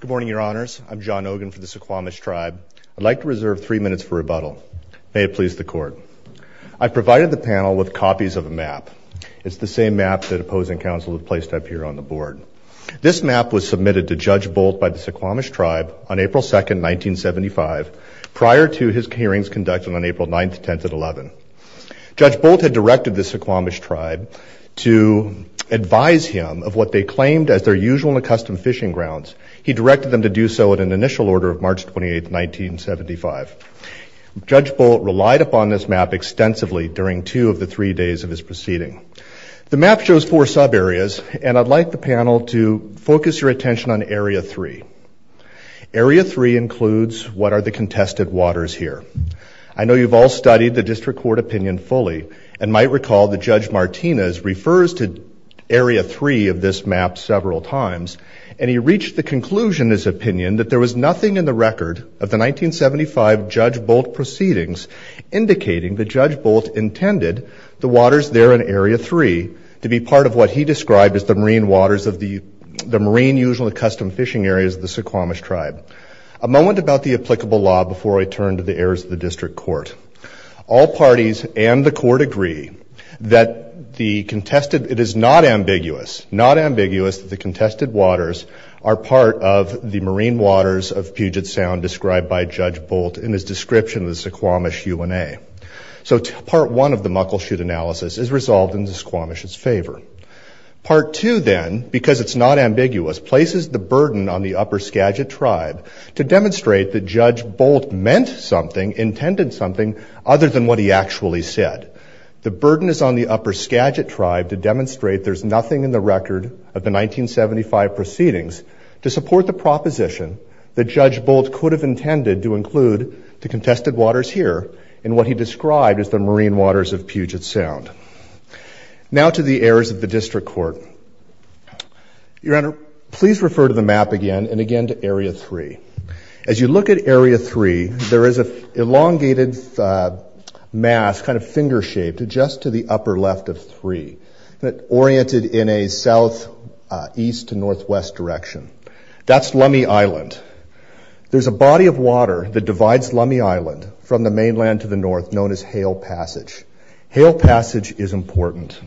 Good morning, your honors. I'm John Ogun for the Suquamish Tribe. I'd like to reserve three minutes for rebuttal. May it please the court. I provided the panel with copies of a map. It's the same map that opposing counsel have placed up here on the board. This map was submitted to Judge Bolt by the Suquamish Tribe on April 2nd, 1975, prior to his hearings conducted on April 9th, 10th, and 11th. Judge Bolt had directed the Suquamish Tribe to advise him of what they claimed as their usual and accustomed fishing grounds. He directed them to do so at an initial order of March 28th, 1975. Judge Bolt relied upon this map extensively during two of the three days of his proceeding. The map shows four sub areas and I'd like the panel to focus your attention on Area 3. Area 3 includes what are the contested waters here. I know you've all studied the district court opinion fully and might recall that Judge Martinez refers to Area 3 of this map several times and he reached the conclusion, his opinion, that there was nothing in the record of the 1975 Judge Bolt proceedings indicating that Judge Bolt intended the waters there in Area 3 to be part of what he described as the marine waters of the the marine usually custom fishing areas of the Suquamish Tribe. A moment about the applicable law before I turn to the heirs of the district court. All parties and the court agree that the contested it is not ambiguous, not ambiguous, that the contested waters are part of the marine waters of Puget Sound described by Judge Bolt in his description of the Suquamish UNA. So part one of the Muckleshoot analysis is resolved in the Suquamish's favor. Part two then, because it's not ambiguous, places the burden on the Upper Skagit Tribe to demonstrate that Judge Bolt meant something, intended something, other than what he actually said. The burden is on the Upper Skagit Tribe to demonstrate there's nothing in the record of the 1975 proceedings to support the proposition that Judge Bolt could have intended to include the contested waters here in what he described as the marine waters of Puget Sound. Now to the heirs of the district court. Your Honor, please refer to the map again and again to Area 3. As you look at Area 3, there is a left of three that oriented in a south east to northwest direction. That's Lummi Island. There's a body of water that divides Lummi Island from the mainland to the north known as Hale Passage. Hale Passage is important.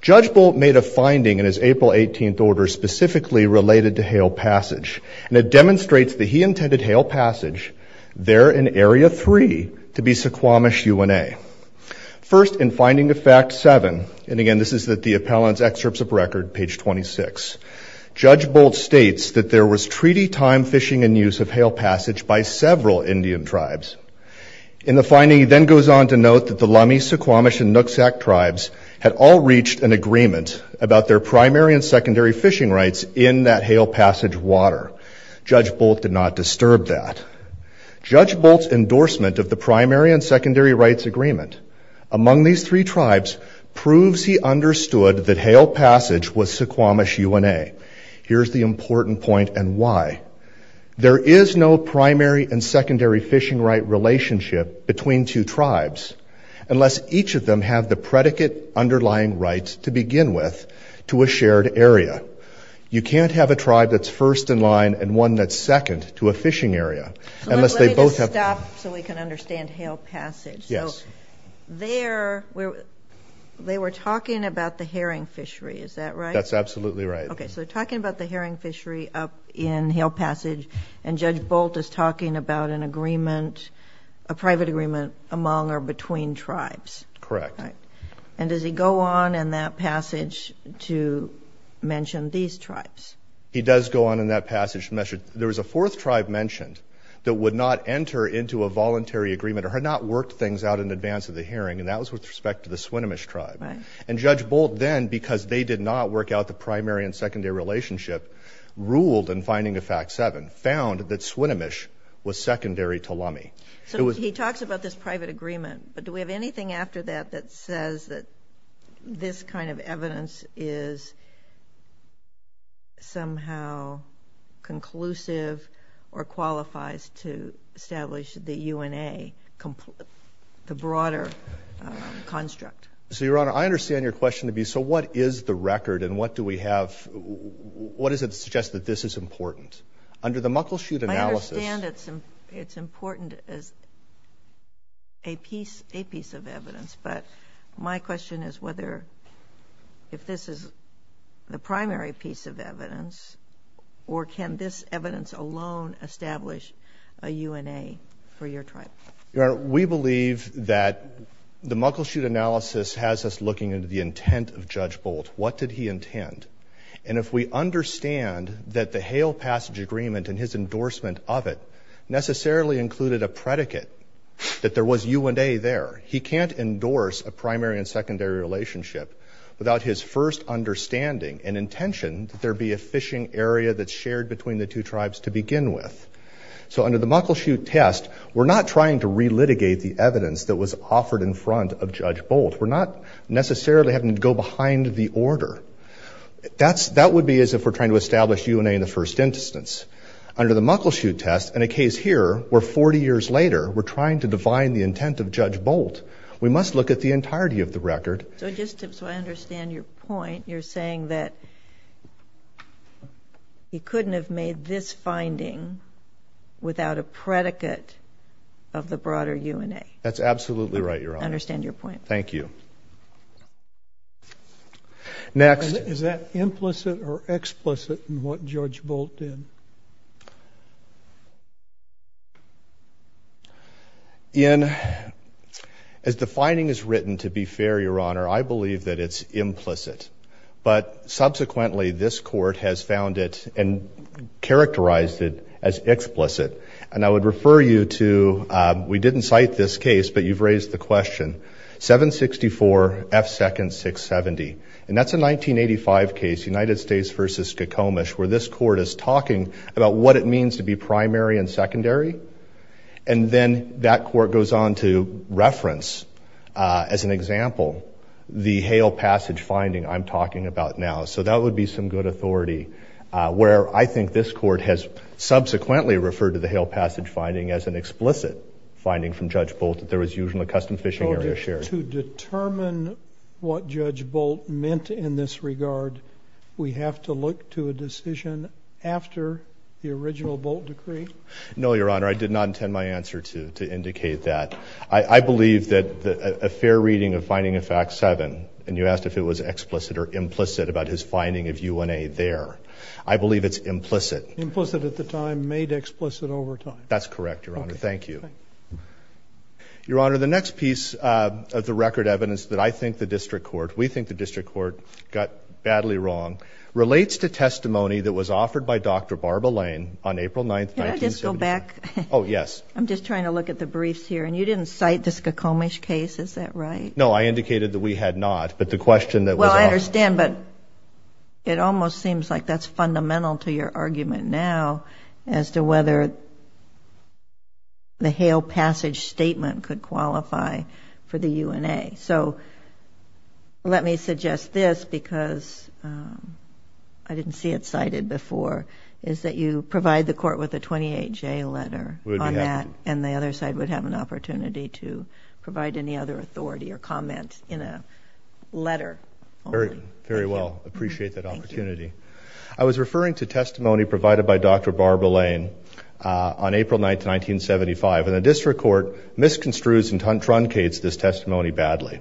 Judge Bolt made a finding in his April 18th order specifically related to Hale Passage and it demonstrates that he intended Hale Passage there in Area 3 to be Suquamish UNA. First, in Finding of Fact 7, and again this is that the appellant's excerpts of record page 26, Judge Bolt states that there was treaty time fishing and use of Hale Passage by several Indian tribes. In the finding, he then goes on to note that the Lummi, Suquamish, and Nooksack tribes had all reached an agreement about their primary and secondary fishing rights in that Hale Passage water. Judge Bolt did not disturb that. Judge Bolt's endorsement of the primary and secondary rights agreement among these three tribes proves he understood that Hale Passage was Suquamish UNA. Here's the important point and why. There is no primary and secondary fishing right relationship between two tribes unless each of them have the predicate underlying rights to begin with to a shared area. You can't have a tribe that's first in line and one that's second to a fishing area unless they both have... So let me just stop so we can understand Hale Passage. Yes. So there, they were talking about the herring fishery is that right? That's absolutely right. Okay so talking about the herring fishery up in Hale Passage and Judge Bolt is talking about an agreement, a private agreement among or between tribes. Correct. And does he go on in that passage to mention these tribes? He does go on in that passage. There was a fourth tribe mentioned that would not enter into a voluntary agreement or had not worked things out in advance of the herring and that was with respect to the Swinomish tribe. And Judge Bolt then because they did not work out the primary and secondary relationship ruled in finding a fact seven, found that Swinomish was secondary to Lummi. So he talks about this private agreement but do we have anything after that that says that this kind of evidence is somehow conclusive or qualifies to establish the UNA, the broader construct? So Your Honor, I understand your question to be so what is the record and what do we have, what does it suggest that this is a piece of evidence but my question is whether if this is the primary piece of evidence or can this evidence alone establish a UNA for your tribe? Your Honor, we believe that the Muckleshoot analysis has us looking into the intent of Judge Bolt. What did he intend? And if we understand that the Hale Passage agreement and his endorsement of it necessarily included a predicate that there was UNA there. He can't endorse a primary and secondary relationship without his first understanding and intention that there be a fishing area that's shared between the two tribes to begin with. So under the Muckleshoot test we're not trying to re-litigate the evidence that was offered in front of Judge Bolt. We're not necessarily having to go behind the order. That would be as if we're trying to establish UNA in the first instance. Under the Muckleshoot test and a case here where 40 years later we're trying to define the intent of Judge Bolt. We must look at the entirety of the record. So just so I understand your point, you're saying that he couldn't have made this finding without a predicate of the broader UNA. That's absolutely right, Your Honor. I understand your point. Thank you. Next. Is that implicit or implicit? Ian, as the finding is written, to be fair, Your Honor, I believe that it's implicit. But subsequently this court has found it and characterized it as explicit. And I would refer you to, we didn't cite this case, but you've raised the question, 764 F. Second 670. And that's a 1985 case, United States v. Skokomish, where this that court goes on to reference, as an example, the Hale Passage finding I'm talking about now. So that would be some good authority where I think this court has subsequently referred to the Hale Passage finding as an explicit finding from Judge Bolt that there was usually a custom fishing area shared. To determine what Judge Bolt meant in this regard, we have to look to a decision after the original Judge Bolt decree. No, Your Honor, I did not intend my answer to indicate that. I believe that a fair reading of Finding of Fact 7, and you asked if it was explicit or implicit about his finding of UNA there, I believe it's implicit. Implicit at the time, made explicit over time. That's correct, Your Honor. Thank you. Your Honor, the next piece of the record evidence that I think the district court, we think the district court, got badly wrong, relates to testimony that was offered by Dr. Barbara Lane on April 9th, 1979. Can I just go back? Oh, yes. I'm just trying to look at the briefs here, and you didn't cite the Skokomish case, is that right? No, I indicated that we had not, but the question that was offered. Well, I understand, but it almost seems like that's fundamental to your argument now as to whether the Hale Passage statement could qualify for the I didn't see it cited before, is that you provide the court with a 28-J letter on that, and the other side would have an opportunity to provide any other authority or comment in a letter. Very, very well. Appreciate that opportunity. I was referring to testimony provided by Dr. Barbara Lane on April 9th, 1975, and the district court misconstrues and truncates this testimony badly.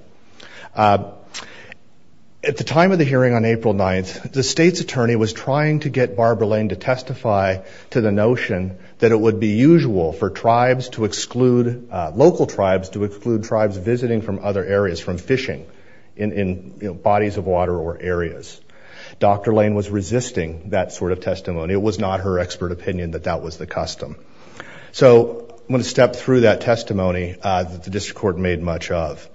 At the of the hearing on April 9th, the state's attorney was trying to get Barbara Lane to testify to the notion that it would be usual for tribes to exclude, local tribes to exclude, tribes visiting from other areas from fishing in bodies of water or areas. Dr. Lane was resisting that sort of testimony. It was not her expert opinion that that was the custom. So, I'm going to step through that testimony that the district court made much of.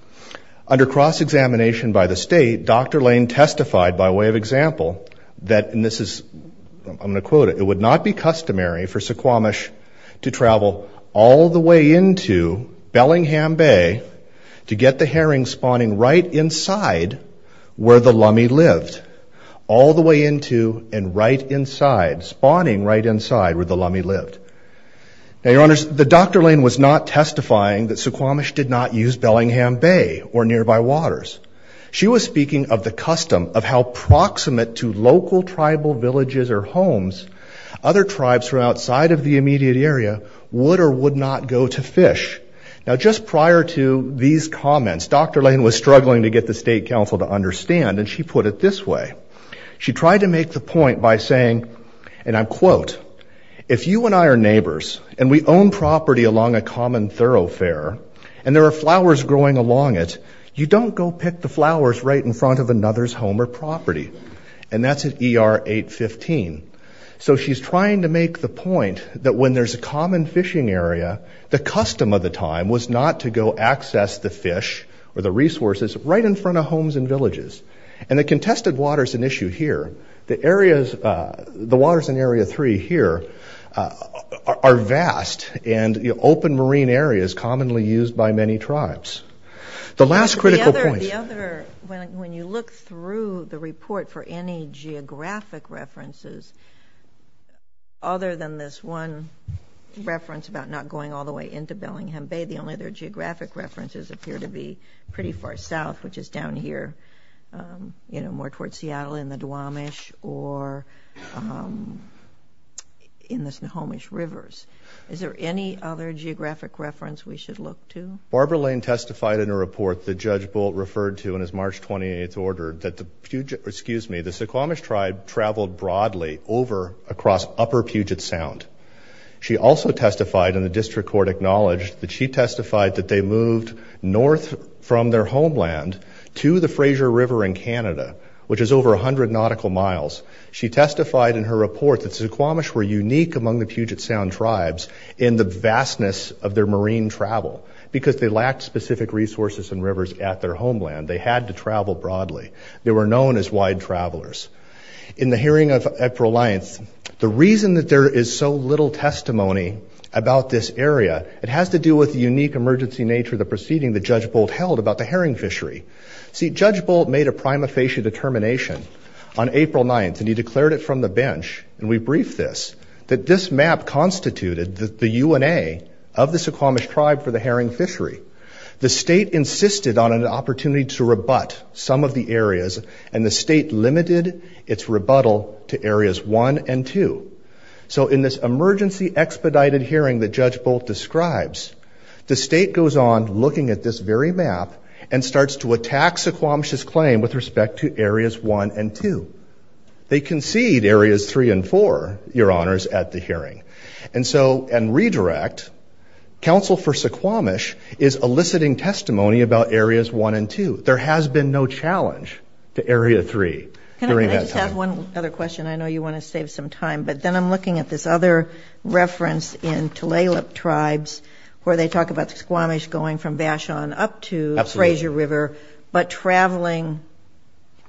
Under cross-examination by the testified by way of example that, and this is, I'm going to quote it, it would not be customary for Suquamish to travel all the way into Bellingham Bay to get the herring spawning right inside where the Lummi lived. All the way into and right inside, spawning right inside where the Lummi lived. Now, your honors, the Dr. Lane was not testifying that Suquamish did not use Bellingham Bay or nearby waters. She was speaking of the custom of how proximate to local tribal villages or homes, other tribes from outside of the immediate area would or would not go to fish. Now, just prior to these comments, Dr. Lane was struggling to get the state council to understand and she put it this way. She tried to make the point by saying, and I'm quote, if you and I are neighbors and we own property along a river, we should pick the flowers right in front of another's home or property. And that's at ER 815. So she's trying to make the point that when there's a common fishing area, the custom of the time was not to go access the fish or the resources right in front of homes and villages. And the contested waters an issue here. The areas, the waters in Area 3 here are vast and open marine areas commonly used by many tribes. The last critical point... The other, when you look through the report for any geographic references, other than this one reference about not going all the way into Bellingham Bay, the only other geographic references appear to be pretty far south, which is down here, you know, more towards Seattle in the Duwamish or in the Snohomish Rivers. Is there any other geographic reference we should look to? Barbara Lane testified in a report that Judge Bolt referred to in his March 28th order that the Puget... excuse me, the Suquamish tribe traveled broadly over across Upper Puget Sound. She also testified, and the district court acknowledged, that she testified that they moved north from their homeland to the Fraser River in Canada, which is over a hundred nautical miles. She testified in her report that the Suquamish were unique among the Puget Sound tribes in the vastness of their marine travel because they lacked specific resources and rivers at their homeland. They had to travel broadly. They were known as wide travelers. In the hearing of April 9th, the reason that there is so little testimony about this area, it has to do with the unique emergency nature of the proceeding that Judge Bolt held about the herring fishery. See, Judge Bolt made a prima facie determination on April 9th, and he declared it from the bench, and we briefed this, that this map constituted the UNA of the Suquamish tribe for the herring fishery. The state insisted on an opportunity to rebut some of the areas, and the state limited its rebuttal to areas 1 and 2. So in this emergency expedited hearing that Judge Bolt describes, the state goes on looking at this very map and starts to attack Suquamish's claim with respect to areas 1 and 2. They concede areas 3 and 4, your honors, at the hearing. And so, and redirect, counsel for Suquamish is eliciting testimony about areas 1 and 2. There has been no challenge to area 3. I just have one other question. I know you want to save some time, but then I'm looking at this other reference in Tulalip tribes where they talk about Suquamish going from Vashon up to Fraser River, but traveling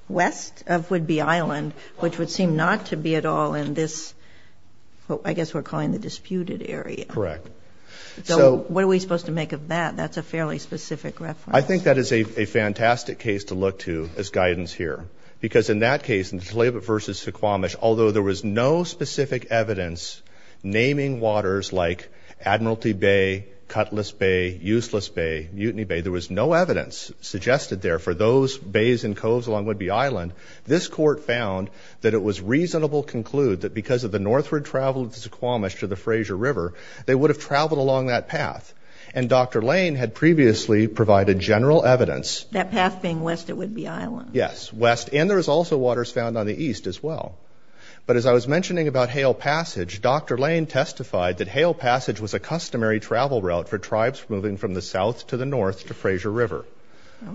west of Whidbey Island, which would seem not to be at all in this, I guess we're calling the disputed area. Correct. So what are we supposed to make of that? That's a fairly specific reference. I think that is a fantastic case to look to as guidance here, because in that case, in Tulalip versus Suquamish, although there was no specific evidence naming waters like Admiralty Bay, Cutlass Bay, Useless Bay, Mutiny Bay, there was no evidence suggested there for those bays and coves along Whidbey Island, this court found that it was reasonable to conclude that because of the northward travel of the Suquamish to the Fraser River, they would have traveled along that path. And Dr. Lane had previously provided general evidence. That path being west of Whidbey Island. Yes, west. And there is also waters found on the east as well. But as I was mentioning about Hale Passage, Dr. Lane testified that Hale Passage was a customary travel route for tribes moving from the south to the north to Fraser River.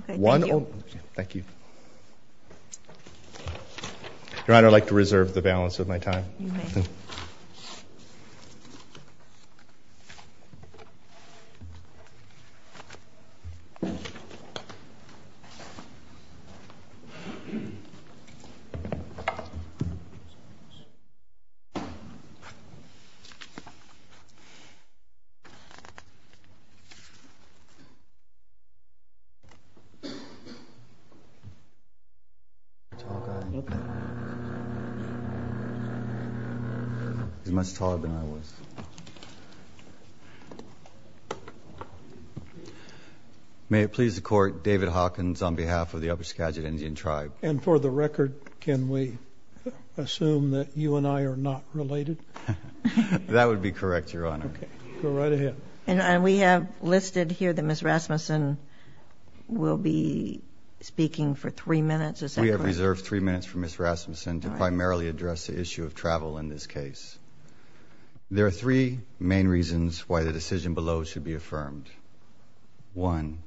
Thank you. Your Honor, I'd like to reserve the balance of my time. He's much taller than I was. May it please the Court, David Hawkins on behalf of the Upper Skagit Indian Tribe. And for the record, can we assume that you and I are not related? That would be correct, Your Honor. Go right ahead. And we have listed here that Ms. Rasmussen will be speaking for three minutes. We have reserved three minutes for Ms. Rasmussen to primarily address the issue of travel in this case. There are three main reasons why the decision below should be affirmed. One,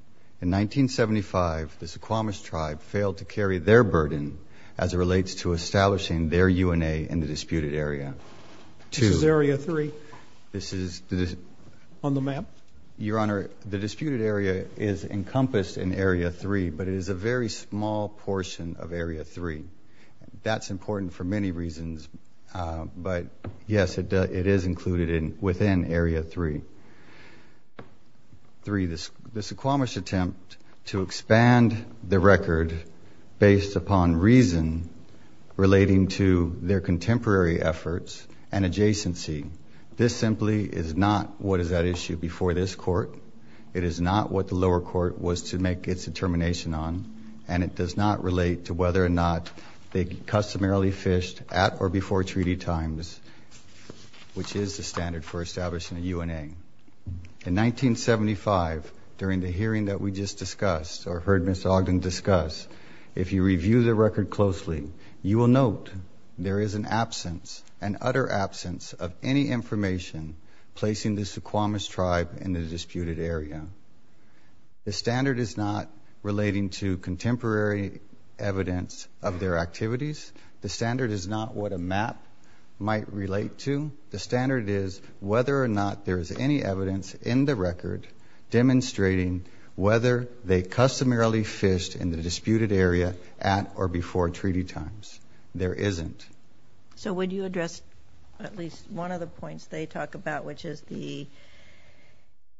in 1975 the Suquamish Tribe failed to carry their burden as it This is area three on the map? Your Honor, the disputed area is encompassed in area three, but it is a very small portion of area three. That's important for many reasons. But yes, it is included within area three. Three, the Suquamish attempt to expand the record based upon reason relating to their contemporary efforts and adjacency. This simply is not what is at issue before this Court. It is not what the lower court was to make its determination on, and it does not relate to whether or not they customarily fished at or before treaty times, which is the standard for establishing a UNA. In 1975, during the hearing that we just discussed or heard Ms. Ogden discuss, if you review the utter absence of any information placing the Suquamish Tribe in the disputed area, the standard is not relating to contemporary evidence of their activities. The standard is not what a map might relate to. The standard is whether or not there is any evidence in the record demonstrating whether they customarily fished in the disputed area at or before treaty times. There isn't. So would you address at least one of the points they talk about, which is the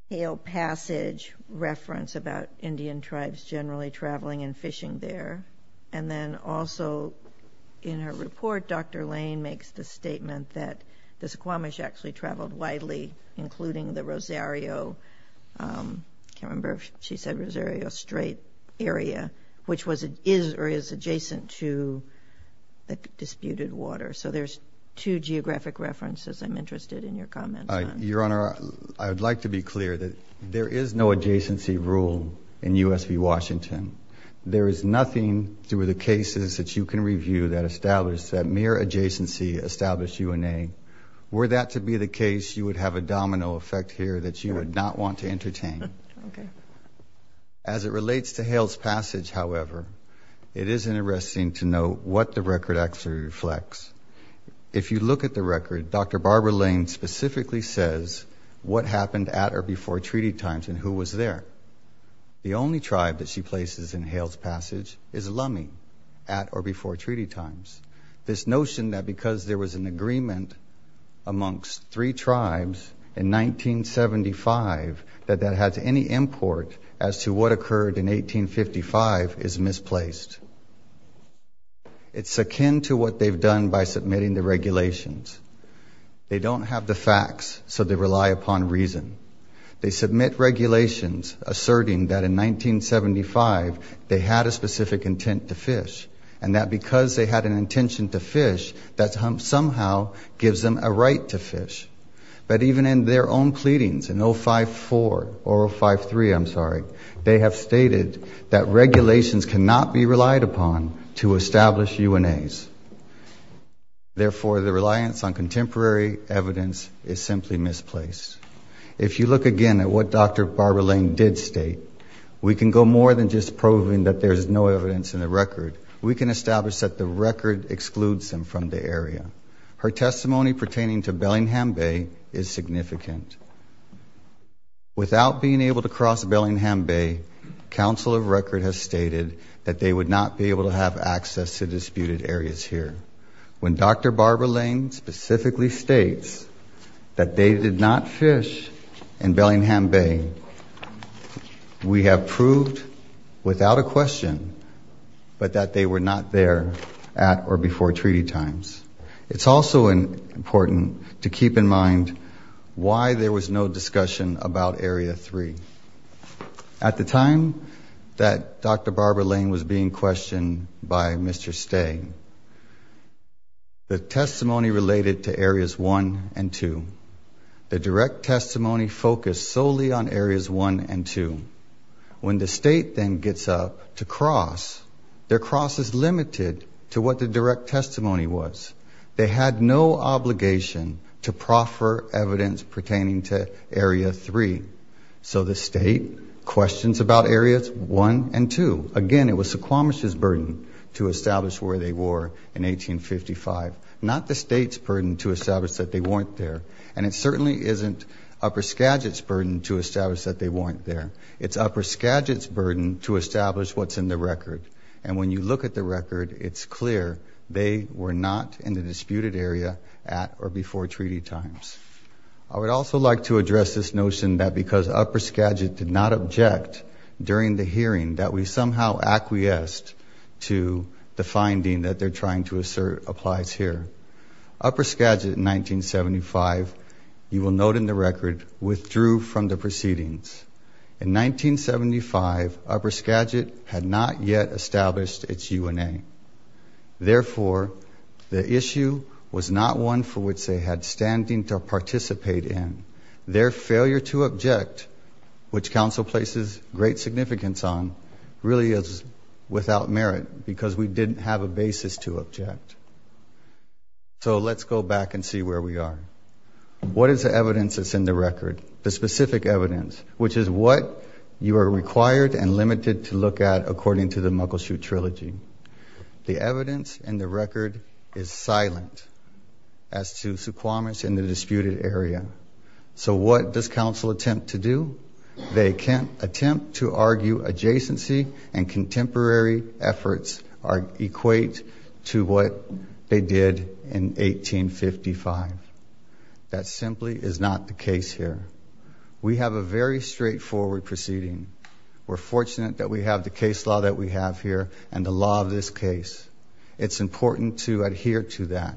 Hale Passage reference about Indian Tribes generally traveling and fishing there? And then also in her report, Dr. Lane makes the statement that the Suquamish actually traveled widely, including the Rosario, I can't remember if she said Rosario Strait area, which is or is adjacent to the disputed water. So there's two geographic references I'm interested in your comments on. Your Honor, I would like to be clear that there is no adjacency rule in U.S. v. Washington. There is nothing through the cases that you can review that establish that mere adjacency established UNA. Were that to be the case, you would have a domino effect here that you would not want to entertain. Okay. As it relates to Hale's Passage, however, it is interesting to note what the record actually reflects. If you look at the record, Dr. Barbara Lane specifically says what happened at or before treaty times and who was there. The only tribe that she places in Hale's Passage is Lummi at or before treaty times. This notion that because there was an agreement amongst three tribes in 1975, that that has any import as to what occurred in 1855 is misplaced. It's akin to what they've done by submitting the regulations. They don't have the facts, so they rely upon reason. They submit regulations asserting that in 1975 they had a specific intent to fish and that because they had an intention to fish, that somehow gives them a right to fish. But even in their own pleadings in 054 or 053, I'm sorry, they have stated that Hale's Passage cannot be relied upon to establish UNAs. Therefore, the reliance on contemporary evidence is simply misplaced. If you look again at what Dr. Barbara Lane did state, we can go more than just proving that there's no evidence in the record. We can establish that the record excludes them from the area. Her testimony pertaining to Bellingham Bay is significant. Without being able to cross Bellingham Bay, Council of Record has stated that they would not be able to have access to disputed areas here. When Dr. Barbara Lane specifically states that they did not fish in Bellingham Bay, we have proved without a question, but that they were not there at or before treaty times. It's also important to keep in mind why there was no discussion about Area 3. At the time that Dr. Barbara Lane was being questioned by Mr. Stang, the testimony related to Areas 1 and 2. The direct testimony focused solely on Areas 1 and 2. When the state then gets up to cross, their cross is limited to what the direct testimony was. They had no obligation to proffer evidence pertaining to Area 3. So the state questions about Areas 1 and 2. Again, it was Squamish's burden to establish where they were in 1855, not the state's burden to establish that they weren't there. And it certainly isn't Upper Skagit's burden to establish that they weren't there. It's Upper Skagit's burden to establish what's in the record. And when you look at the record, it's clear were not in the disputed area at or before treaty times. I would also like to address this notion that because Upper Skagit did not object during the hearing that we somehow acquiesced to the finding that they're trying to assert applies here. Upper Skagit in 1975, you will note in the record, withdrew from the proceedings. In 1975, Upper Skagit had not yet established its UNA. Therefore, the issue was not one for which they had standing to participate in. Their failure to object, which council places great significance on, really is without merit because we didn't have a basis to object. So let's go back and see where we are. What is the evidence that's in the record? The specific evidence, which is what you are required and limited to look at according to the Muggleshoot Trilogy. The evidence in the record is silent as to Suquamish in the disputed area. So what does council attempt to do? They can't attempt to argue adjacency and contemporary efforts equate to what they did in 1855. That simply is not the case here. We have a very straightforward proceeding. We're fortunate that we have the case law that we have here and the law of this case. It's important to adhere to that.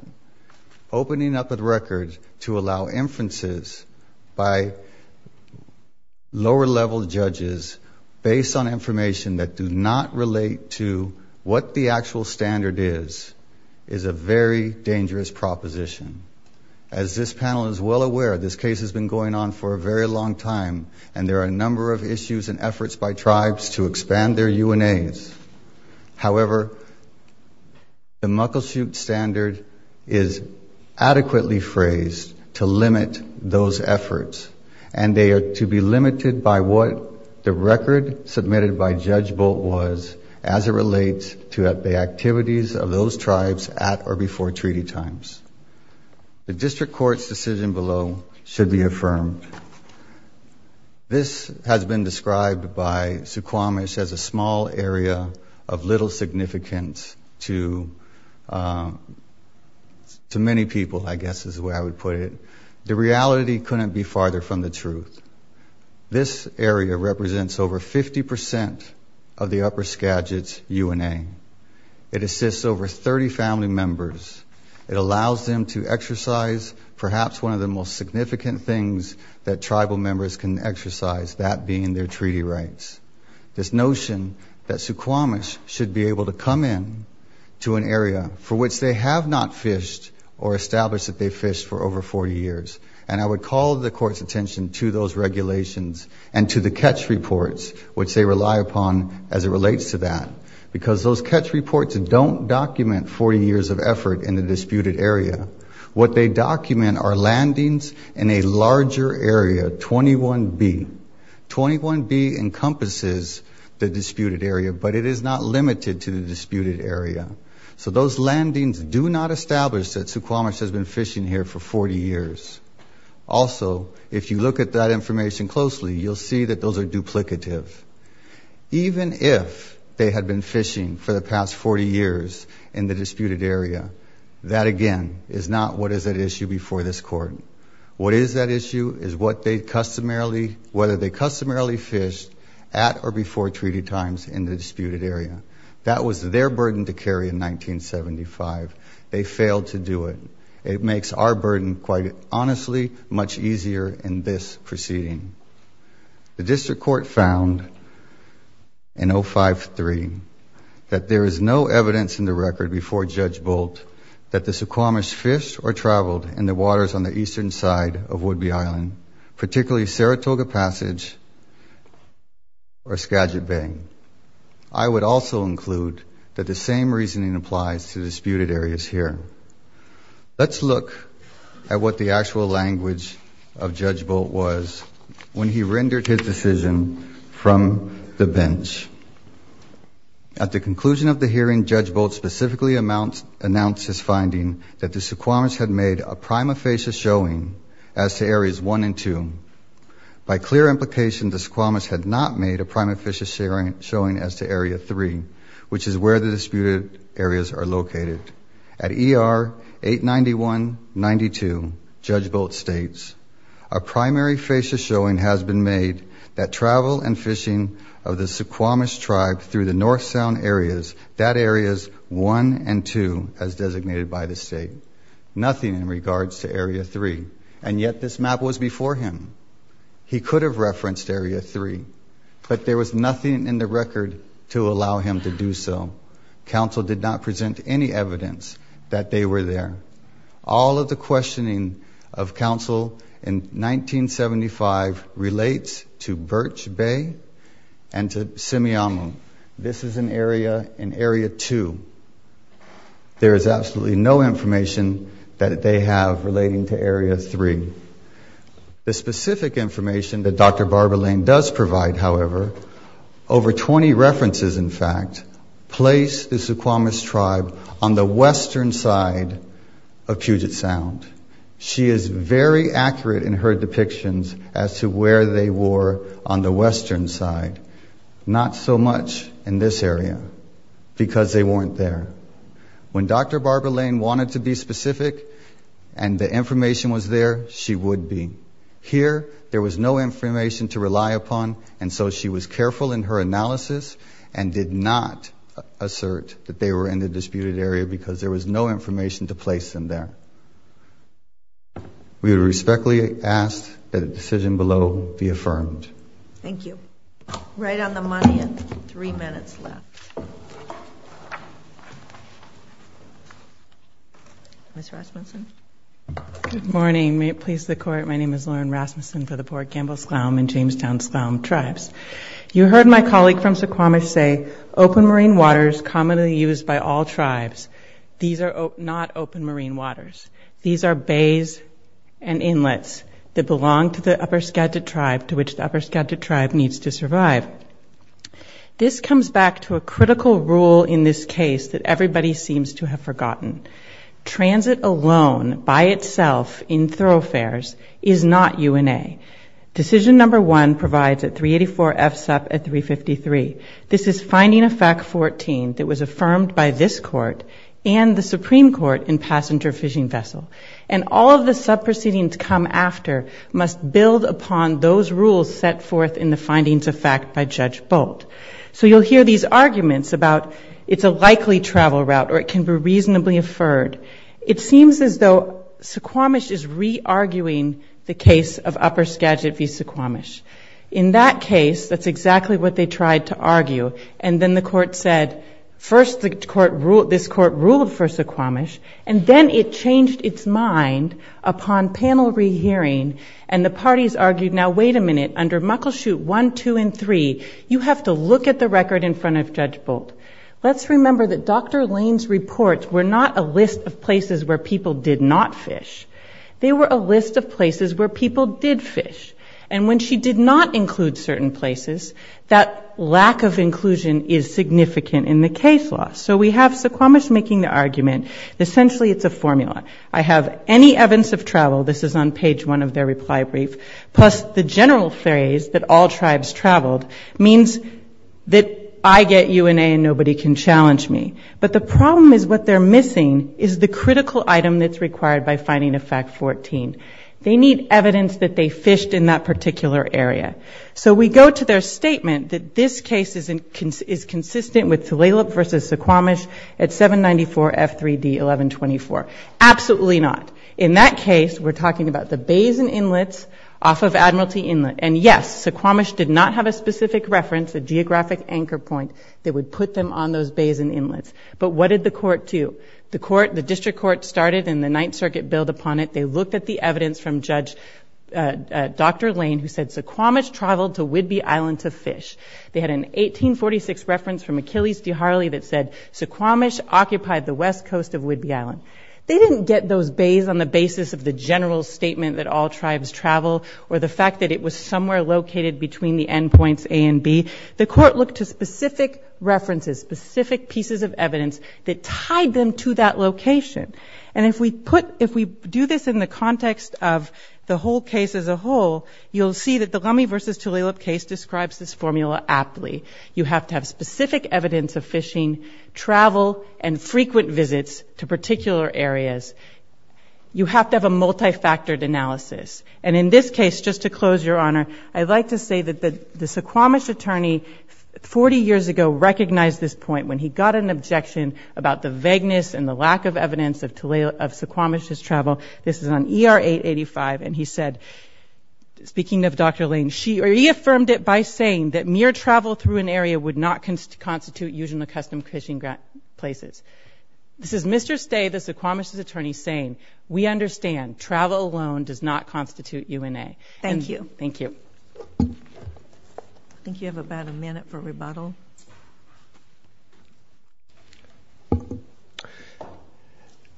Opening up a record to allow inferences by lower level judges based on information that do not relate to what the actual standard is, is a very dangerous proposition. As this panel is well aware, this case has been going on for a very long time and there are a number of issues and efforts by other UNAs. However, the Muggleshoot standard is adequately phrased to limit those efforts and they are to be limited by what the record submitted by Judge Bolt was as it relates to the activities of those tribes at or before treaty times. The district court's decision below should be affirmed. This has been a small area of little significance to many people, I guess is the way I would put it. The reality couldn't be farther from the truth. This area represents over 50% of the upper Skagit's UNA. It assists over 30 family members. It allows them to exercise perhaps one of the most significant things that tribal members can exercise, that being their treaty rights. This notion that Suquamish should be able to come in to an area for which they have not fished or established that they fished for over 40 years. And I would call the court's attention to those regulations and to the catch reports which they rely upon as it relates to that. Because those catch reports don't document 40 years of effort in the 21B encompasses the disputed area but it is not limited to the disputed area. So those landings do not establish that Suquamish has been fishing here for 40 years. Also, if you look at that information closely, you'll see that those are duplicative. Even if they had been fishing for the past 40 years in the disputed area, that again is not what is at issue before this court. What is at issue is what they customarily, whether they customarily fished at or before treaty times in the disputed area. That was their burden to carry in 1975. They failed to do it. It makes our burden quite honestly much easier in this proceeding. The district court found in 05-3 that there is no evidence in the record before Judge Bolt that the Suquamish fished or traveled in the Island, particularly Saratoga Passage or Skagit Bay. I would also include that the same reasoning applies to disputed areas here. Let's look at what the actual language of Judge Bolt was when he rendered his decision from the bench. At the conclusion of the hearing, Judge Bolt specifically announced his areas 1 and 2. By clear implication, the Suquamish had not made a primary facia showing as to area 3, which is where the disputed areas are located. At ER 891-92, Judge Bolt states, A primary facia showing has been made that travel and fishing of the Suquamish tribe through the North Sound areas, that areas 1 and 2, as designated by the state. Nothing in regards to area 3, and yet this map was before him. He could have referenced area 3, but there was nothing in the record to allow him to do so. Counsel did not present any evidence that they were there. All of the 1975 relates to Birch Bay and to Simiamu. This is an area in area 2. There is absolutely no information that they have relating to area 3. The specific information that Dr. Barbara Lane does provide, however, over 20 references in fact, place the Suquamish tribe on the western side of Puget Sound. She is very accurate in her depictions as to where they were on the western side. Not so much in this area because they weren't there. When Dr. Barbara Lane wanted to be specific and the information was there, she would be. Here, there was no information to rely upon, and so she was careful in her analysis and did not assert that they were in the disputed area because there was no information to directly ask that a decision below be affirmed. Thank you. Right on the money and three minutes left. Ms. Rasmussen. Good morning. May it please the court, my name is Lauren Rasmussen for the Port Gamble-Sklown and Jamestown-Sklown tribes. You heard my colleague from Suquamish say open marine waters commonly used by all tribes. These are not open marine waters. These are bays and inlets that belong to the upper Skagit tribe to which the upper Skagit tribe needs to survive. This comes back to a critical rule in this case that everybody seems to have forgotten. Transit alone by itself in thoroughfares is not UNA. Decision number one provides at 384 FSEP at 353. This is finding effect 14 that was affirmed by this court and the Supreme Court in passenger fishing vessel. And all of the sub proceedings come after must build upon those rules set forth in the findings of fact by Judge Bolt. So you'll hear these arguments about it's a likely travel route or it can be reasonably affirmed. It seems as though Suquamish is re-arguing the case of upper Skagit v. Suquamish. In that case, that's exactly what they tried to argue. And then the court said first this court ruled for Suquamish and then it changed its mind upon panel re-hearing and the parties argued now wait a minute under Muckleshoot 1, 2, and 3, you have to look at the record in front of Judge Bolt. Let's remember that Dr. Lane's reports were not a list of places where people did not fish. They were a list of places where people did fish. And when she did not include certain places, that lack of inclusion is significant in the case law. So we have Suquamish making the argument essentially it's a formula. I have any evidence of travel, this is on page one of their reply brief, plus the general theories that all tribes traveled means that I get UNA and nobody can challenge me. But the problem is what they're missing is the critical item that's required by finding effect 14. They need evidence that they fished in that particular area. So we go to their statement that this case is consistent with Tulalip versus Suquamish at 794 F3D 1124. Absolutely not. In that case, we're talking about the bays and inlets off of Admiralty Inlet. And yes, Suquamish did not have a specific reference, a geographic anchor point that would put them on those bays and inlets. But what did the court do? The court, the district court started and the Ninth Circuit brought evidence from Judge Dr. Lane who said Suquamish traveled to Whidbey Island to fish. They had an 1846 reference from Achilles de Harley that said Suquamish occupied the west coast of Whidbey Island. They didn't get those bays on the basis of the general statement that all tribes travel or the fact that it was somewhere located between the endpoints A and B. The court looked to specific references, specific pieces of evidence that tied them to that location. And if we put, if we do this in the context of the whole case as a whole, you'll see that the Lummi versus Tulalip case describes this formula aptly. You have to have specific evidence of fishing, travel, and frequent visits to particular areas. You have to have a multifactored analysis. And in this case, just to close, Your Honor, I'd like to say that the Suquamish attorney 40 years ago recognized this point when he got an objection about the vagueness and the lack of evidence of Tulalip, of Suquamish's travel. This is on ER 885 and he said, speaking of Dr. Lane, she reaffirmed it by saying that mere travel through an area would not constitute using the custom fishing places. This is Mr. Stay, the Suquamish's attorney, saying we understand travel alone does not constitute UNA. Thank you. Thank you. I think you have about a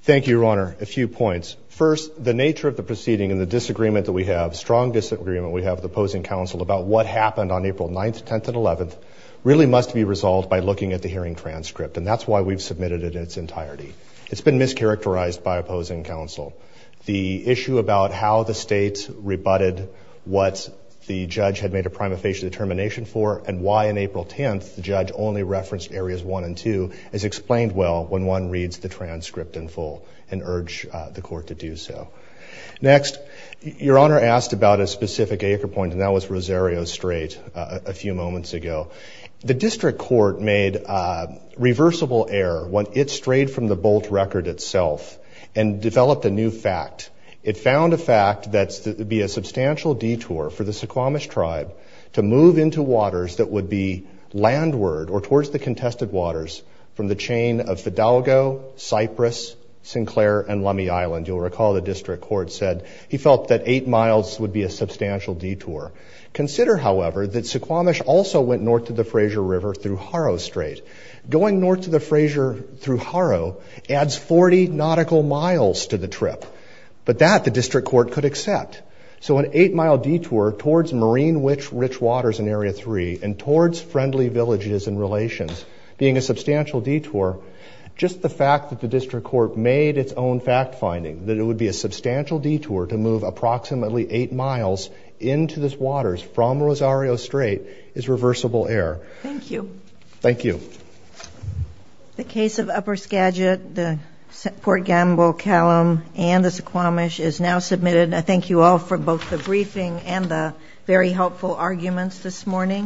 Thank you, Your Honor. A few points. First, the nature of the proceeding and the disagreement that we have, strong disagreement we have with the opposing counsel about what happened on April 9th, 10th, and 11th really must be resolved by looking at the hearing transcript. And that's why we've submitted it in its entirety. It's been mischaracterized by opposing counsel. The issue about how the state rebutted what the judge had made a prima facie determination for and why in April 10th the judge only referenced areas 1 and 2 is explained well when one reads the transcript in full and urged the court to do so. Next, Your Honor asked about a specific acre point and that was Rosario Strait a few moments ago. The district court made a reversible error when it strayed from the bolt record itself and developed a new fact. It found a fact that there would be a substantial detour for the Suquamish tribe to move into waters that would be landward or the contested waters from the chain of Fidalgo, Cypress, Sinclair, and Lummi Island. You'll recall the district court said he felt that eight miles would be a substantial detour. Consider, however, that Suquamish also went north to the Frazier River through Harrow Strait. Going north to the Frazier through Harrow adds 40 nautical miles to the trip, but that the district court could accept. So an eight-mile detour towards marine-rich waters in Area 3 and towards friendly villages and relations, being a substantial detour, just the fact that the district court made its own fact-finding that it would be a substantial detour to move approximately eight miles into this waters from Rosario Strait is reversible error. Thank you. Thank you. The case of Upper Skagit, the Port Gamble, Callum, and the Suquamish is now submitted. I thank you all for both the briefing and the very helpful arguments this morning.